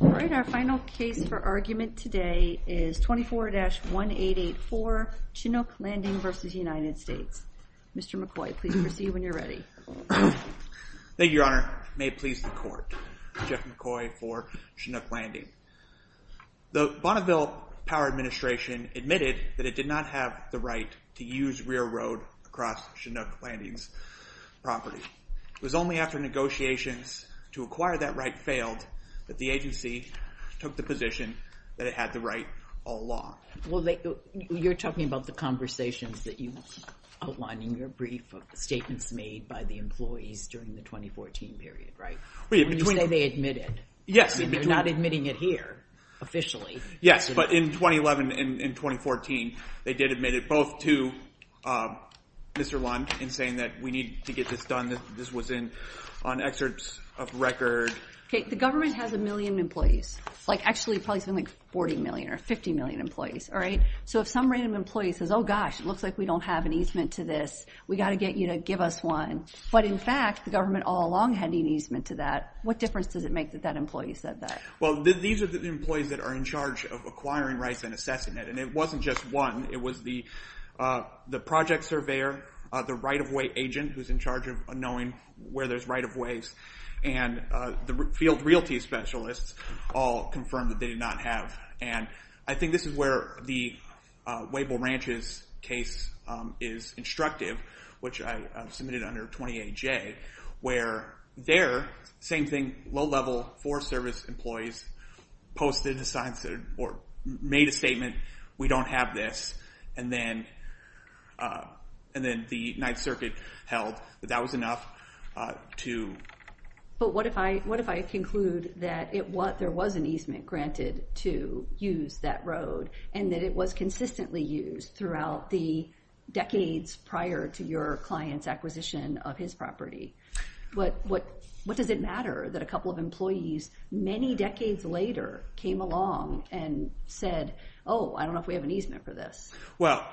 All right, our final case for argument today is 24-1884 Chinook Landing v. United States. Mr. McCoy, please proceed when you're ready. Thank you, Your Honor. May it please the Court. Jeff McCoy for Chinook Landing. The Bonneville Power Administration admitted that it did not have the right to use rear road across Chinook Landing's property. It was only after negotiations to acquire that right failed that the agency took the position that it had the right all along. Well, you're talking about the conversations that you outlined in your brief of statements made by the employees during the 2014 period, right? When you say they admitted, you're not admitting it here officially. Yes, but in 2011 and 2014, they did admit it both to Mr. Lund in saying that we need to get this done. This was in – on excerpts of record. Okay, the government has a million employees, like actually probably something like 40 million or 50 million employees, all right? So if some random employee says, oh, gosh, it looks like we don't have an easement to this. We've got to get you to give us one. But in fact, the government all along had an easement to that. What difference does it make that that employee said that? Well, these are the employees that are in charge of acquiring rights and assessing it, and it wasn't just one. It was the project surveyor, the right-of-way agent who's in charge of knowing where there's right-of-ways, and the field realty specialists all confirmed that they did not have. And I think this is where the Wable Ranch's case is instructive, which I submitted under 20-AJ, where there, same thing, low-level forest service employees posted a sign or made a statement, we don't have this. And then the Ninth Circuit held that that was enough to – But what if I conclude that there was an easement granted to use that road and that it was consistently used throughout the decades prior to your client's acquisition of his property? What does it matter that a couple of employees many decades later came along and said, oh, I don't know if we have an easement for this? Well,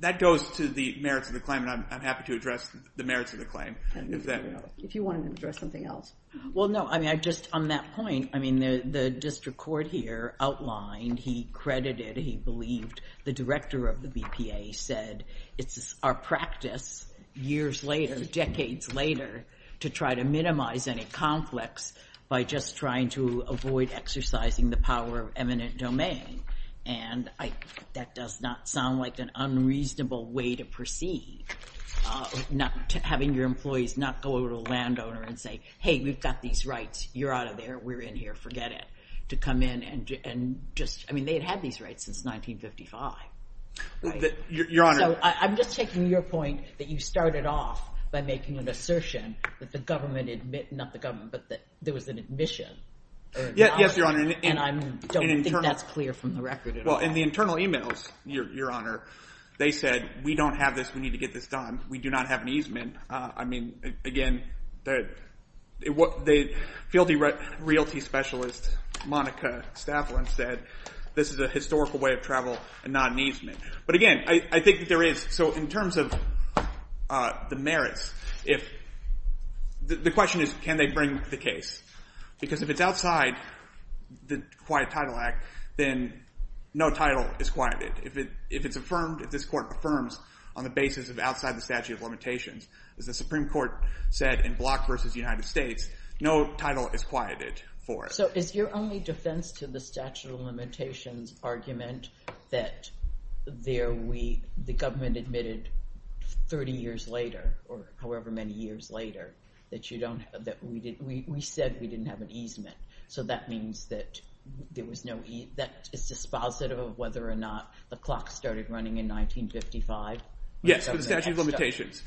that goes to the merits of the claim, and I'm happy to address the merits of the claim. If you wanted to address something else. Well, no, I mean, just on that point, I mean, the district court here outlined, he credited, he believed, the director of the BPA said it's our practice years later, decades later, to try to minimize any conflicts by just trying to avoid exercising the power of eminent domain. And that does not sound like an unreasonable way to proceed, having your employees not go over to a landowner and say, hey, we've got these rights, you're out of there, we're in here, forget it, to come in and just, I mean, they had had these rights since 1955. Your Honor. So I'm just taking your point that you started off by making an assertion that the government, not the government, but that there was an admission. Yes, Your Honor. And I don't think that's clear from the record at all. Well, in the internal emails, Your Honor, they said, we don't have this, we need to get this done, we do not have an easement. I mean, again, the field realty specialist, Monica Stafflin, said this is a historical way of travel and not an easement. But again, I think there is, so in terms of the merits, the question is, can they bring the case? Because if it's outside the Quiet Title Act, then no title is quieted. If it's affirmed, if this court affirms on the basis of outside the statute of limitations, as the Supreme Court said in Block v. United States, no title is quieted for it. So is your only defense to the statute of limitations argument that the government admitted 30 years later, or however many years later, that you don't, that we said we didn't have an easement. So that means that there was no, that is dispositive of whether or not the clock started running in 1955? Yes, for the statute of limitations.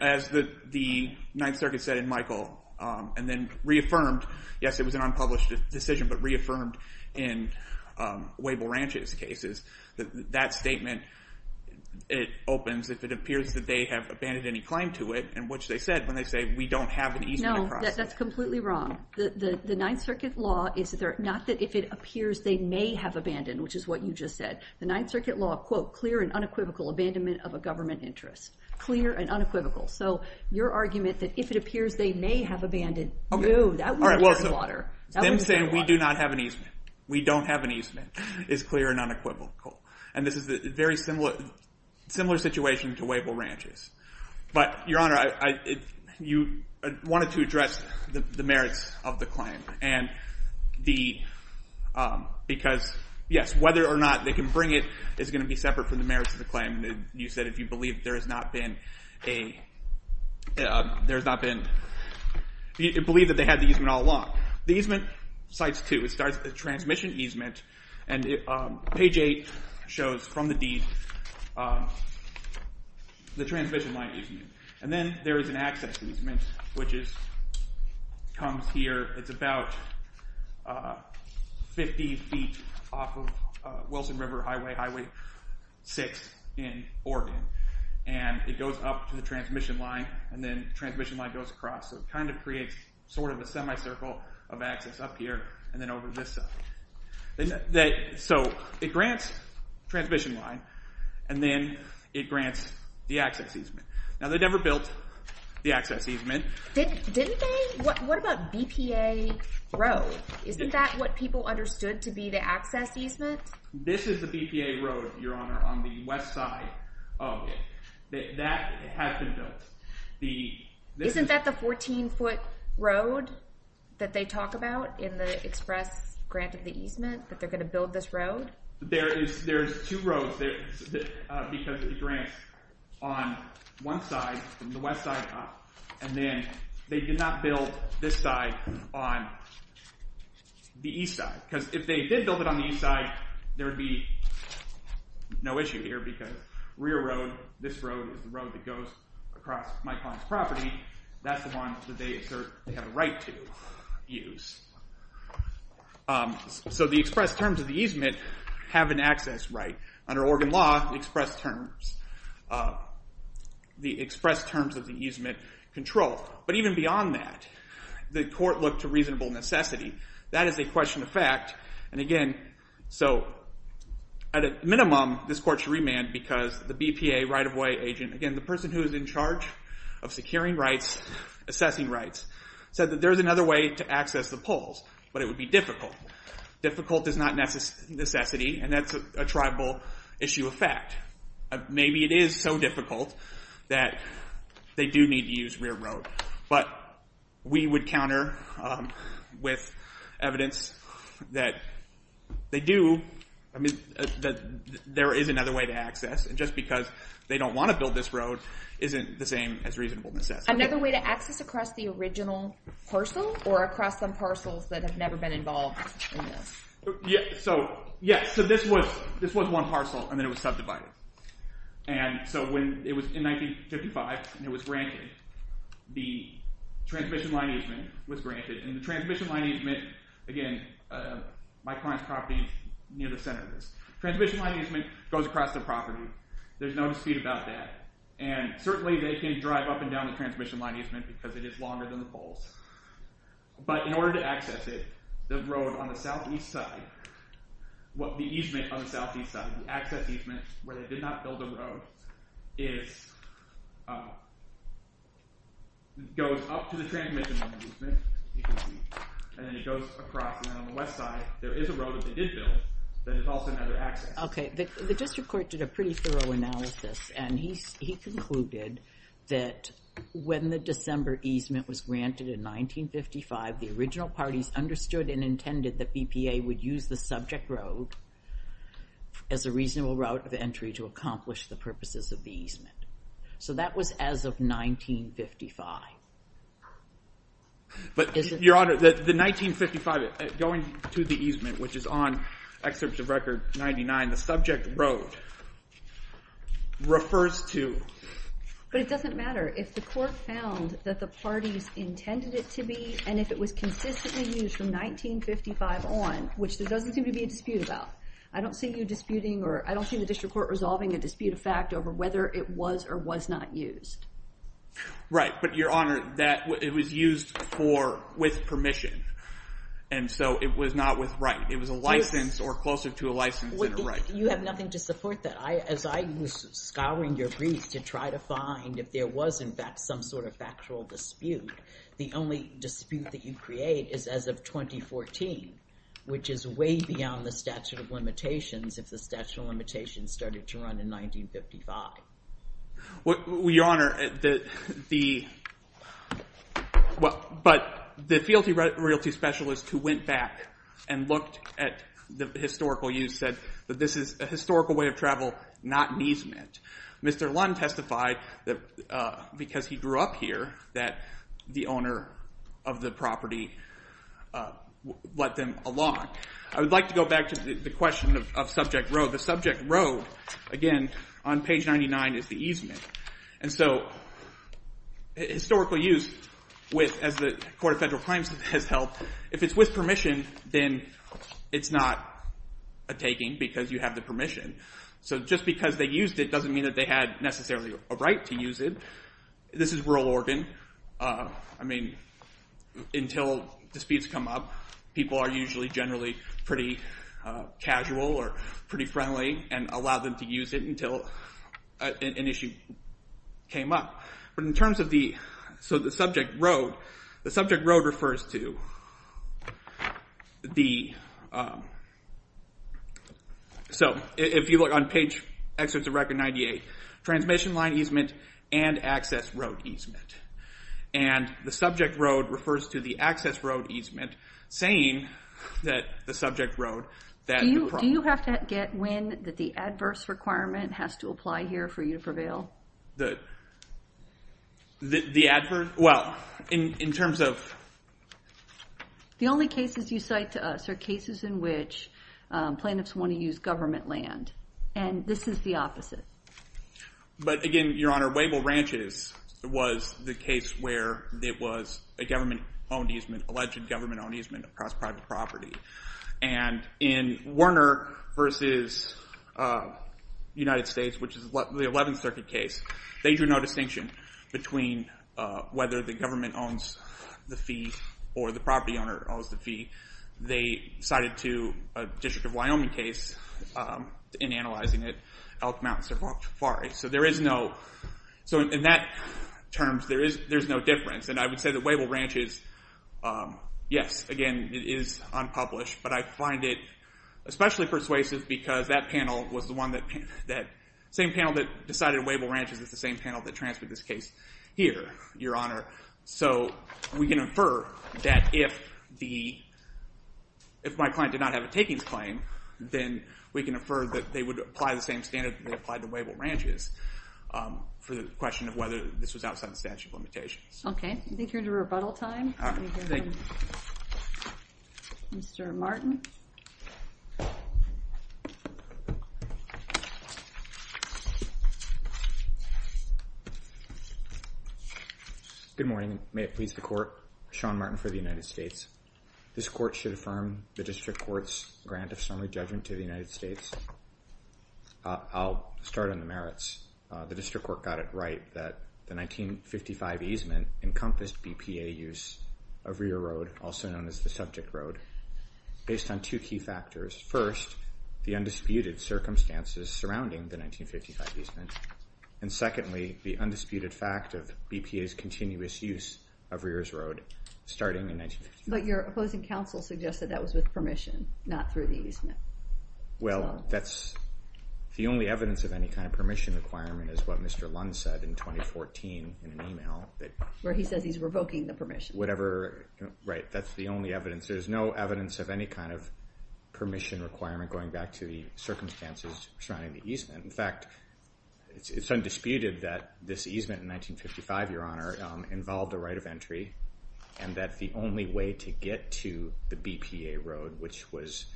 As the Ninth Circuit said in Michael, and then reaffirmed, yes, it was an unpublished decision, but reaffirmed in Wable Ranch's cases, that statement, it opens if it appears that they have abandoned any claim to it, in which they said, when they say, we don't have an easement. No, that's completely wrong. The Ninth Circuit law is not that if it appears they may have abandoned, which is what you just said. The Ninth Circuit law, quote, clear and unequivocal abandonment of a government interest. Clear and unequivocal. So your argument that if it appears they may have abandoned, no, that wouldn't be water. Them saying we do not have an easement, we don't have an easement, is clear and unequivocal. And this is a very similar situation to Wable Ranch's. But, Your Honor, you wanted to address the merits of the claim. And the, because, yes, whether or not they can bring it is going to be separate from the merits of the claim. You said if you believe there has not been a, there has not been, believe that they had the easement all along. The easement cites two. It starts at the transmission easement, and page 8 shows from the deed the transmission line easement. And then there is an access easement, which comes here. It's about 50 feet off of Wilson River Highway, Highway 6 in Oregon. And it goes up to the transmission line, and then the transmission line goes across. So it kind of creates sort of a semicircle of access up here, and then over this side. So it grants transmission line, and then it grants the access easement. Now they never built the access easement. Didn't they? What about BPA Road? Isn't that what people understood to be the access easement? This is the BPA Road, Your Honor, on the west side of it. That has been built. Isn't that the 14-foot road that they talk about in the express grant of the easement, that they're going to build this road? There is two roads, because it grants on one side, from the west side up. And then they did not build this side on the east side, because if they did build it on the east side, there would be no issue here. Because rear road, this road, is the road that goes across my client's property. That's the one that they assert they have a right to use. So the express terms of the easement have an access right. Under Oregon law, the express terms of the easement control. But even beyond that, the court looked to reasonable necessity. That is a question of fact. At a minimum, this court should remand, because the BPA right-of-way agent, again, the person who is in charge of securing rights, assessing rights, said that there's another way to access the poles, but it would be difficult. Difficult is not necessity, and that's a tribal issue of fact. Maybe it is so difficult that they do need to use rear road. But we would counter with evidence that they do, that there is another way to access, and just because they don't want to build this road isn't the same as reasonable necessity. Another way to access across the original parcel, or across some parcels that have never been involved in this? Yes, so this was one parcel, and then it was subdivided. It was in 1955, and it was granted. The transmission line easement was granted. And the transmission line easement, again, my client's property near the center of this. Transmission line easement goes across the property. There's no dispute about that. And certainly they can drive up and down the transmission line easement, because it is longer than the poles. But in order to access it, the road on the southeast side, the easement on the southeast side, the access easement where they did not build a road, goes up to the transmission line easement, and then it goes across. And then on the west side, there is a road that they did build that is also another access. Okay, the district court did a pretty thorough analysis, and he concluded that when the December easement was granted in 1955, the original parties understood and intended that BPA would use the subject road as a reasonable route of entry to accomplish the purposes of the easement. So that was as of 1955. But, Your Honor, the 1955 going to the easement, which is on Excerpt of Record 99, the subject road refers to? But it doesn't matter. If the court found that the parties intended it to be, and if it was consistently used from 1955 on, which there doesn't seem to be a dispute about. I don't see you disputing or I don't see the district court resolving a dispute of fact over whether it was or was not used. Right, but, Your Honor, it was used with permission. And so it was not with right. It was a license or closer to a license than a right. You have nothing to support that. As I was scouring your briefs to try to find if there was, in fact, some sort of factual dispute, the only dispute that you create is as of 2014, which is way beyond the statute of limitations if the statute of limitations started to run in 1955. Well, Your Honor, the fealty royalty specialist who went back and looked at the historical use said that this is a historical way of travel, not an easement. Mr. Lund testified that because he grew up here, that the owner of the property let them along. I would like to go back to the question of subject road. The subject road, again, on page 99 is the easement. And so historical use, as the Court of Federal Crimes has held, if it's with permission, then it's not a taking because you have the permission. So just because they used it doesn't mean that they had necessarily a right to use it. This is rural Oregon. I mean, until disputes come up, people are usually generally pretty casual or pretty friendly and allow them to use it until an issue came up. But in terms of the subject road, the subject road refers to the... So if you look on page, excerpts of Record 98, transmission line easement and access road easement. And the subject road refers to the access road easement, saying that the subject road... Do you have to get when the adverse requirement has to apply here for you to prevail? The adverse? Well, in terms of... The only cases you cite to us are cases in which plaintiffs want to use government land. And this is the opposite. But again, Your Honor, Wabel Ranches was the case where it was a government-owned easement, alleged government-owned easement across private property. And in Werner v. United States, which is the 11th Circuit case, they drew no distinction between whether the government owns the fee or the property owner owns the fee. They cited to a District of Wyoming case in analyzing it, Elk Mountain Safari. So there is no... So in that terms, there's no difference. And I would say that Wabel Ranches, yes, again, it is unpublished. But I find it especially persuasive because that panel was the one that... That same panel that decided Wabel Ranches is the same panel that transferred this case here, Your Honor. So we can infer that if the... If my client did not have a takings claim, then we can infer that they would apply the same standard that they applied to Wabel Ranches for the question of whether this was outside the statute of limitations. Okay. I think you're into rebuttal time. Let me hear from Mr. Martin. Good morning. May it please the Court. Sean Martin for the United States. This Court should affirm the District Court's grant of summary judgment to the United States. I'll start on the merits. The District Court got it right that the 1955 easement encompassed BPA use of Rear Road, also known as the Subject Road, based on two key factors. First, the undisputed circumstances surrounding the 1955 easement. And secondly, the undisputed fact of BPA's continuous use of Rear's Road starting in 1955. But your opposing counsel suggested that was with permission, not through the easement. Well, that's the only evidence of any kind of permission requirement is what Mr. Lund said in 2014 in an email. Where he says he's revoking the permission. Right. That's the only evidence. There's no evidence of any kind of permission requirement going back to the circumstances surrounding the easement. In fact, it's undisputed that this easement in 1955, Your Honor, involved a right of entry, and that the only way to get to the BPA Road, which was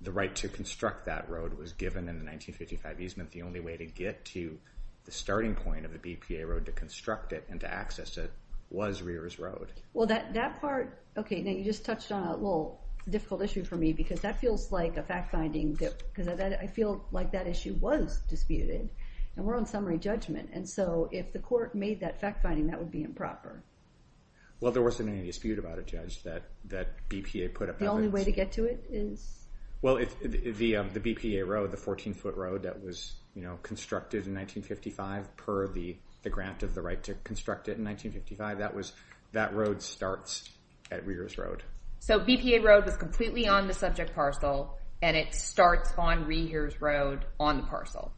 the right to construct that road, was given in the 1955 easement. The only way to get to the starting point of the BPA Road to construct it and to access it was Rear's Road. Well, that part, okay, now you just touched on a little difficult issue for me, because that feels like a fact-finding, because I feel like that issue was disputed. And we're on summary judgment. And so if the court made that fact-finding, that would be improper. Well, there wasn't any dispute about it, Judge, that BPA put up evidence. The only way to get to it is? Well, the BPA Road, the 14-foot road that was constructed in 1955 per the grant of the right to construct it in 1955, that road starts at Rear's Road. So BPA Road was completely on the subject parcel, and it starts on Rear's Road on the parcel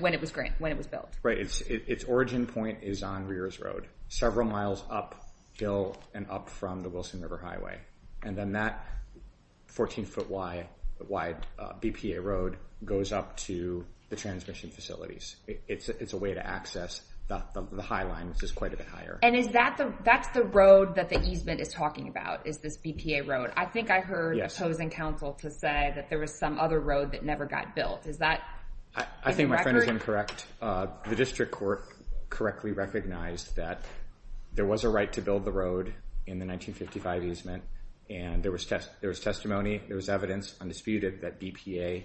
when it was built. Right, its origin point is on Rear's Road, several miles up hill and up from the Wilson River Highway. And then that 14-foot-wide BPA Road goes up to the transmission facilities. It's a way to access the High Line, which is quite a bit higher. And is that the road that the easement is talking about, is this BPA Road? I think I heard opposing counsel to say that there was some other road that never got built. I think my friend is incorrect. The district court correctly recognized that there was a right to build the road in the 1955 easement, and there was testimony, there was evidence, undisputed, that BPA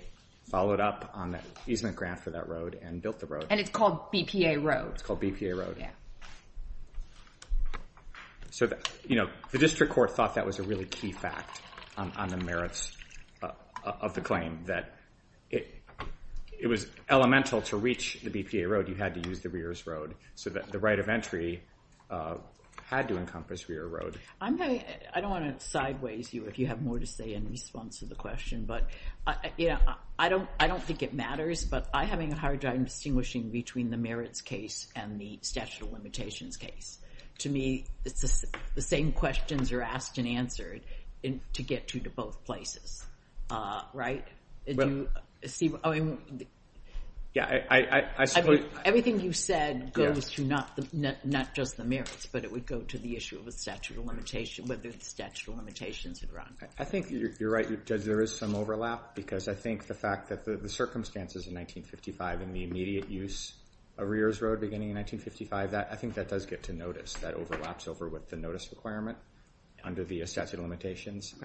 followed up on the easement grant for that road and built the road. And it's called BPA Road. It's called BPA Road. So the district court thought that was a really key fact on the merits of the claim, that it was elemental to reach the BPA Road, you had to use the Rear's Road, so that the right of entry had to encompass Rear Road. I don't want to sideways you if you have more to say in response to the question, but I don't think it matters. But I'm having a hard time distinguishing between the merits case and the statute of limitations case. To me, it's the same questions are asked and answered to get you to both places, right? Everything you said goes to not just the merits, but it would go to the issue of the statute of limitations, whether the statute of limitations had run. I think you're right, Judge, there is some overlap, because I think the fact that the circumstances in 1955 and the immediate use of Rear's Road beginning in 1955, I think that does get to notice, that overlaps over with the notice requirement under the statute of limitations.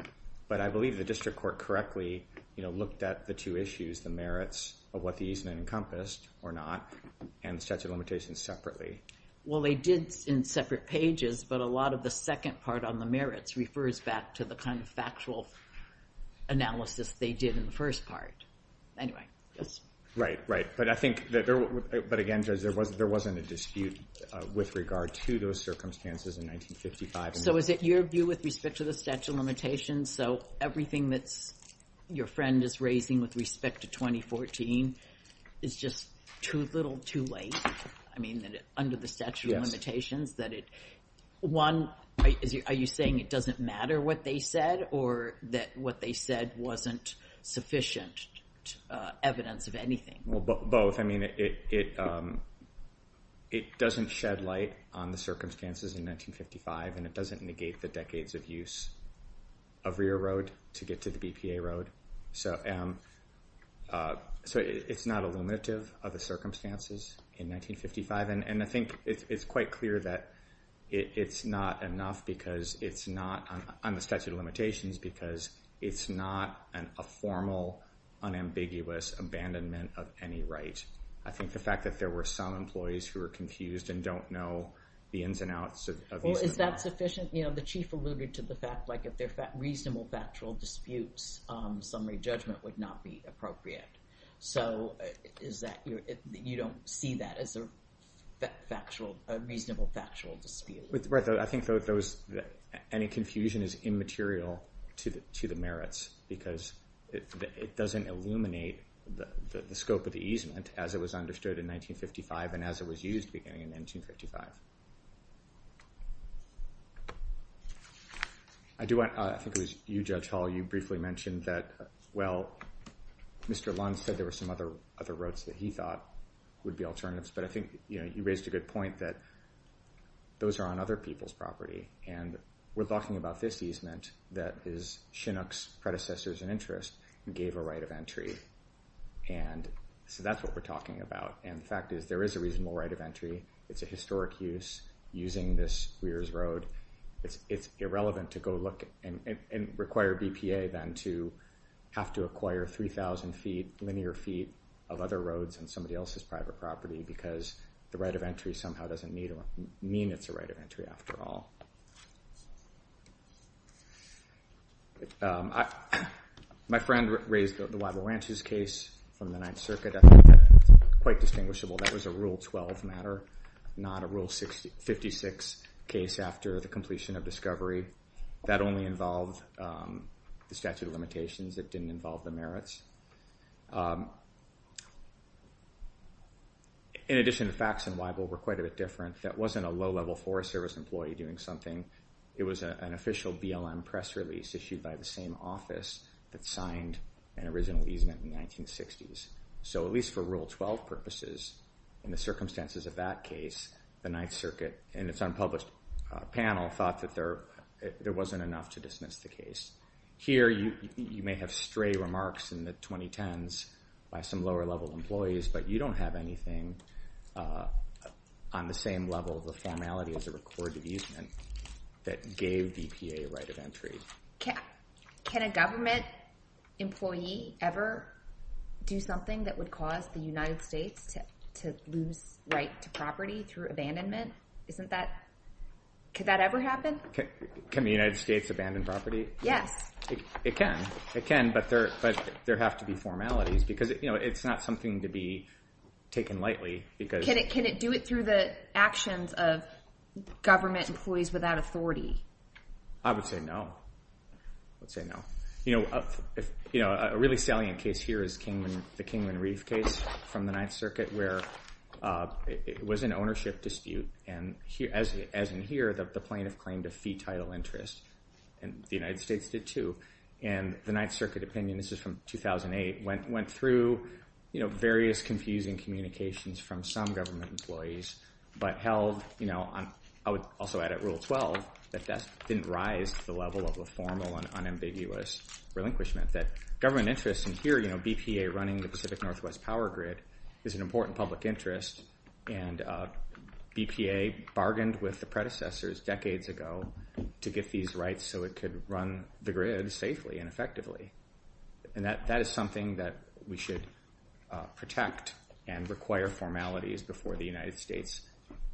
But I believe the district court correctly looked at the two issues, the merits of what the easement encompassed or not, and the statute of limitations separately. Well, they did in separate pages, but a lot of the second part on the merits refers back to the kind of factual analysis they did in the first part. Anyway, yes? Right, right. But I think, but again, Judge, there wasn't a dispute with regard to those circumstances in 1955. So is it your view with respect to the statute of limitations, so everything that your friend is raising with respect to 2014 is just too little, too late? I mean, under the statute of limitations, that it, one, are you saying it doesn't matter what they said, or that what they said wasn't sufficient evidence of anything? Well, both. I mean, it doesn't shed light on the circumstances in 1955, and it doesn't negate the decades of use of Rear Road to get to the BPA Road. So it's not illuminative of the circumstances in 1955, and I think it's quite clear that it's not enough because it's not, on the statute of limitations, because it's not a formal, unambiguous abandonment of any right. I think the fact that there were some employees who were confused and don't know the ins and outs of these. So is that sufficient? You know, the Chief alluded to the fact, like, if they're reasonable factual disputes, summary judgment would not be appropriate. So is that, you don't see that as a reasonable factual dispute? I think any confusion is immaterial to the merits because it doesn't illuminate the scope of the easement as it was understood in 1955 and as it was used beginning in 1955. I think it was you, Judge Hall, you briefly mentioned that, well, Mr. Lund said there were some other roads that he thought would be alternatives, but I think you raised a good point that those are on other people's property, and we're talking about this easement that Chinook's predecessors in interest gave a right of entry, and so that's what we're talking about. And the fact is there is a reasonable right of entry. It's a historic use using this Weir's Road. It's irrelevant to go look and require BPA then to have to acquire 3,000 feet, linear feet of other roads on somebody else's private property because the right of entry somehow doesn't mean it's a right of entry after all. My friend raised the Weible Ranches case from the Ninth Circuit. I think that's quite distinguishable. That was a Rule 12 matter, not a Rule 56 case after the completion of discovery. That only involved the statute of limitations. It didn't involve the merits. In addition, facts in Weible were quite a bit different. That wasn't a low-level Forest Service employee doing something. It was an official BLM press release issued by the same office that signed an original easement in the 1960s. So at least for Rule 12 purposes, in the circumstances of that case, the Ninth Circuit and its unpublished panel thought that there wasn't enough to dismiss the case. Here, you may have stray remarks in the 2010s by some lower-level employees, but you don't have anything on the same level of formality as a recorded easement that gave BPA a right of entry. Can a government employee ever do something that would cause the United States to lose right to property through abandonment? Could that ever happen? Can the United States abandon property? Yes. It can, but there have to be formalities because it's not something to be taken lightly. Can it do it through the actions of government employees without authority? I would say no. I would say no. A really salient case here is the Kingman Reef case from the Ninth Circuit, where it was an ownership dispute. And as in here, the plaintiff claimed a fee title interest, and the United States did too. And the Ninth Circuit opinion, this is from 2008, went through various confusing communications from some government employees, but held, I would also add at Rule 12, that that didn't rise to the level of a formal and unambiguous relinquishment, that government interests in here, BPA running the Pacific Northwest power grid is an important public interest, and BPA bargained with the predecessors decades ago to get these rights so it could run the grid safely and effectively. And that is something that we should protect and require formalities before the United States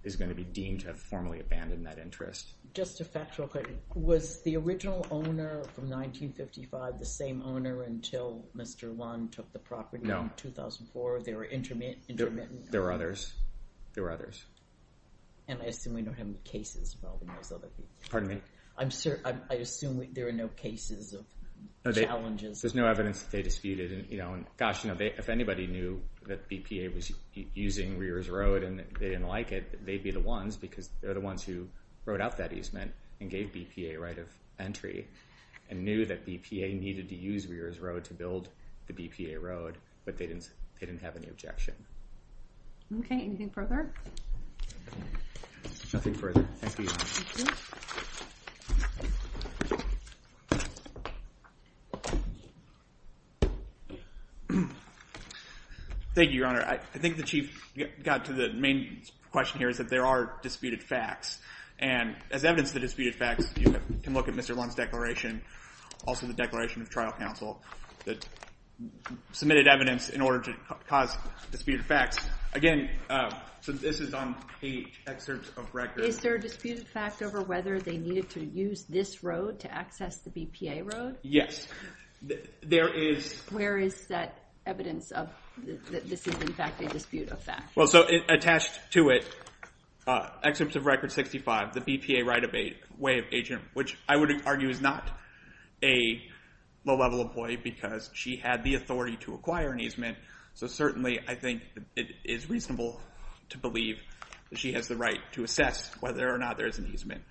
is going to be deemed to have formally abandoned that interest. Just a factual question. Was the original owner from 1955 the same owner until Mr. Wong took the property in 2004? They were intermittent? There were others. There were others. And I assume we don't have any cases involving those other people. Pardon me? I assume there are no cases of challenges. There's no evidence that they disputed. Gosh, if anybody knew that BPA was using Rear's Road and they didn't like it, they'd be the ones, because they're the ones who wrote out that easement and gave BPA right of entry, and knew that BPA needed to use Rear's Road to build the BPA road, but they didn't have any objection. Okay, anything further? Nothing further. Thank you. Thank you, Your Honor. I think the Chief got to the main question here is that there are disputed facts. And as evidence of the disputed facts, you can look at Mr. Wong's declaration, also the Declaration of Trial Council, that submitted evidence in order to cause disputed facts. Again, so this is on page excerpts of record. Is there a disputed fact over whether they needed to use this road to access the BPA road? Yes, there is. Where is that evidence of this is, in fact, a disputed fact? Well, so attached to it, excerpts of record 65, the BPA right of way of agent, which I would argue is not a low-level employee because she had the authority to acquire an easement. So certainly, I think it is reasonable to believe that she has the right to assess whether or not there is an easement.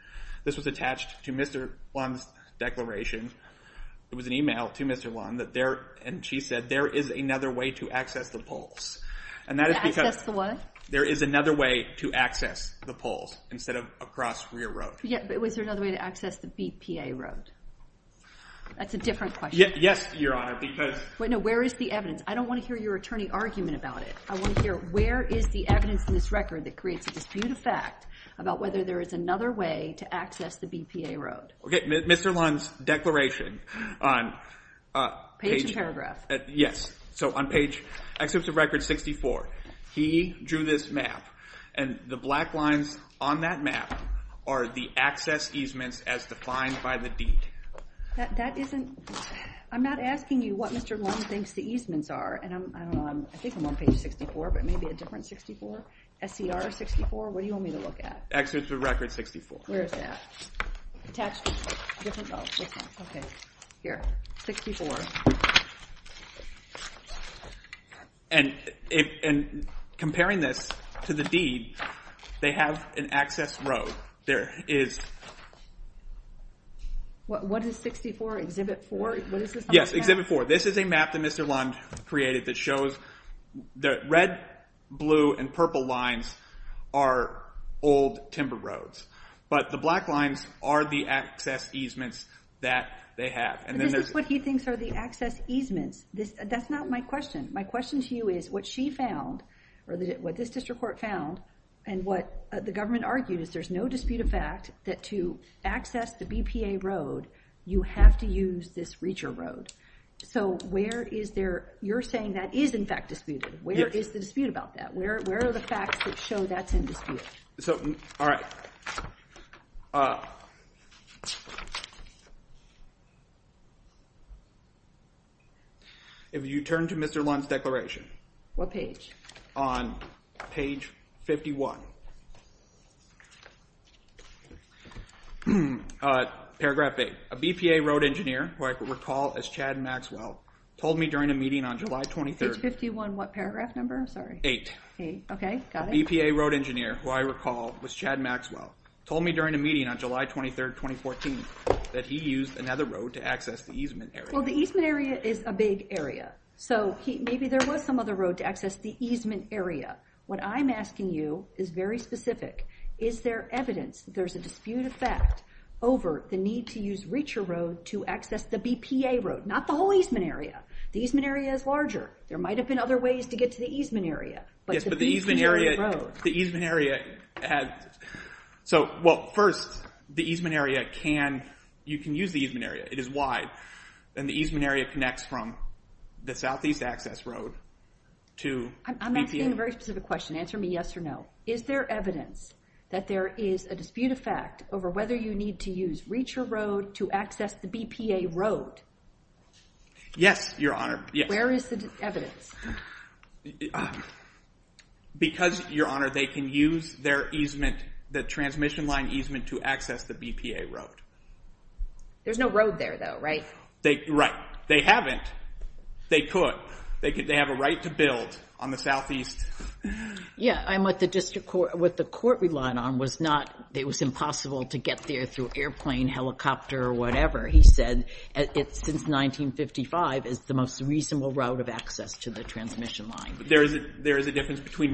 This was attached to Mr. Wong's declaration. It was an email to Mr. Wong, and she said there is another way to access the poles. To access the what? There is another way to access the poles instead of across Rear Road. Yeah, but was there another way to access the BPA road? That's a different question. Yes, Your Honor, because No, where is the evidence? I don't want to hear your attorney argument about it. I want to hear where is the evidence in this record that creates a disputed fact about whether there is another way to access the BPA road. Okay, Mr. Lund's declaration on page Page and paragraph. Yes, so on page excerpts of record 64, he drew this map, and the black lines on that map are the access easements as defined by the deed. I'm not asking you what Mr. Lund thinks the easements are. I think I'm on page 64, but maybe a different 64? SCR 64? What do you want me to look at? Excerpts of record 64. Where is that? Attached to different? Oh, this one. Okay. Here, 64. And comparing this to the deed, they have an access road. There is What is 64? Exhibit 4? Yes, Exhibit 4. This is a map that Mr. Lund created that shows the red, blue, and purple lines are old timber roads. But the black lines are the access easements that they have. This is what he thinks are the access easements. That's not my question. My question to you is what she found, or what this district court found, and what the government argued is there's no dispute of fact that to access the BPA road, you have to use this Reacher Road. So where is there, you're saying that is in fact disputed. Where is the dispute about that? Where are the facts that show that's in dispute? So, all right. If you turn to Mr. Lund's declaration. What page? On page 51. Paragraph 8. A BPA road engineer, who I recall as Chad Maxwell, told me during a meeting on July 23rd. Page 51, what paragraph number? I'm sorry. Eight. Okay, got it. A BPA road engineer, who I recall was Chad Maxwell, told me during a meeting on July 23rd, 2014, that he used another road to access the easement area. Well, the easement area is a big area. So maybe there was some other road to access the easement area. What I'm asking you is very specific. Is there evidence that there's a dispute of fact over the need to use Reacher Road to access the BPA road? Not the whole easement area. The easement area is larger. There might have been other ways to get to the easement area. Yes, but the easement area has... So, well, first, the easement area can... You can use the easement area. It is wide. And the easement area connects from the Southeast Access Road to BPA. I'm asking a very specific question. Answer me yes or no. Is there evidence that there is a dispute of fact over whether you need to use Reacher Road to access the BPA road? Yes, Your Honor. Yes. Where is the evidence? Because, Your Honor, they can use their easement, the transmission line easement, to access the BPA road. There's no road there, though, right? Right. They haven't. They could. They have a right to build on the Southeast... Yeah, and what the court relied on was not... It was impossible to get there through airplane, helicopter, or whatever. He said since 1955, it's the most reasonable route of access to the transmission line. But there is a difference between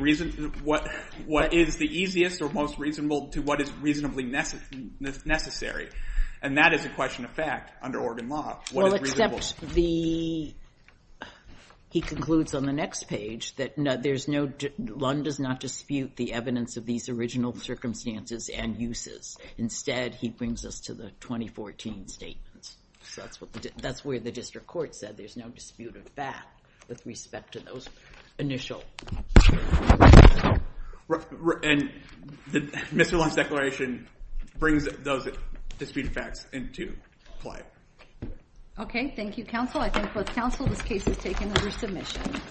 what is the easiest or most reasonable to what is reasonably necessary. And that is a question of fact under Oregon law. Well, except the... He concludes on the next page that there's no... Lund does not dispute the evidence of these original circumstances and uses. Instead, he brings us to the 2014 statements. That's where the district court said there's no dispute of fact with respect to those initial... And Mr. Lund's declaration brings those dispute of facts into play. Okay. Thank you, counsel. I thank both counsel. This case is taken under submission.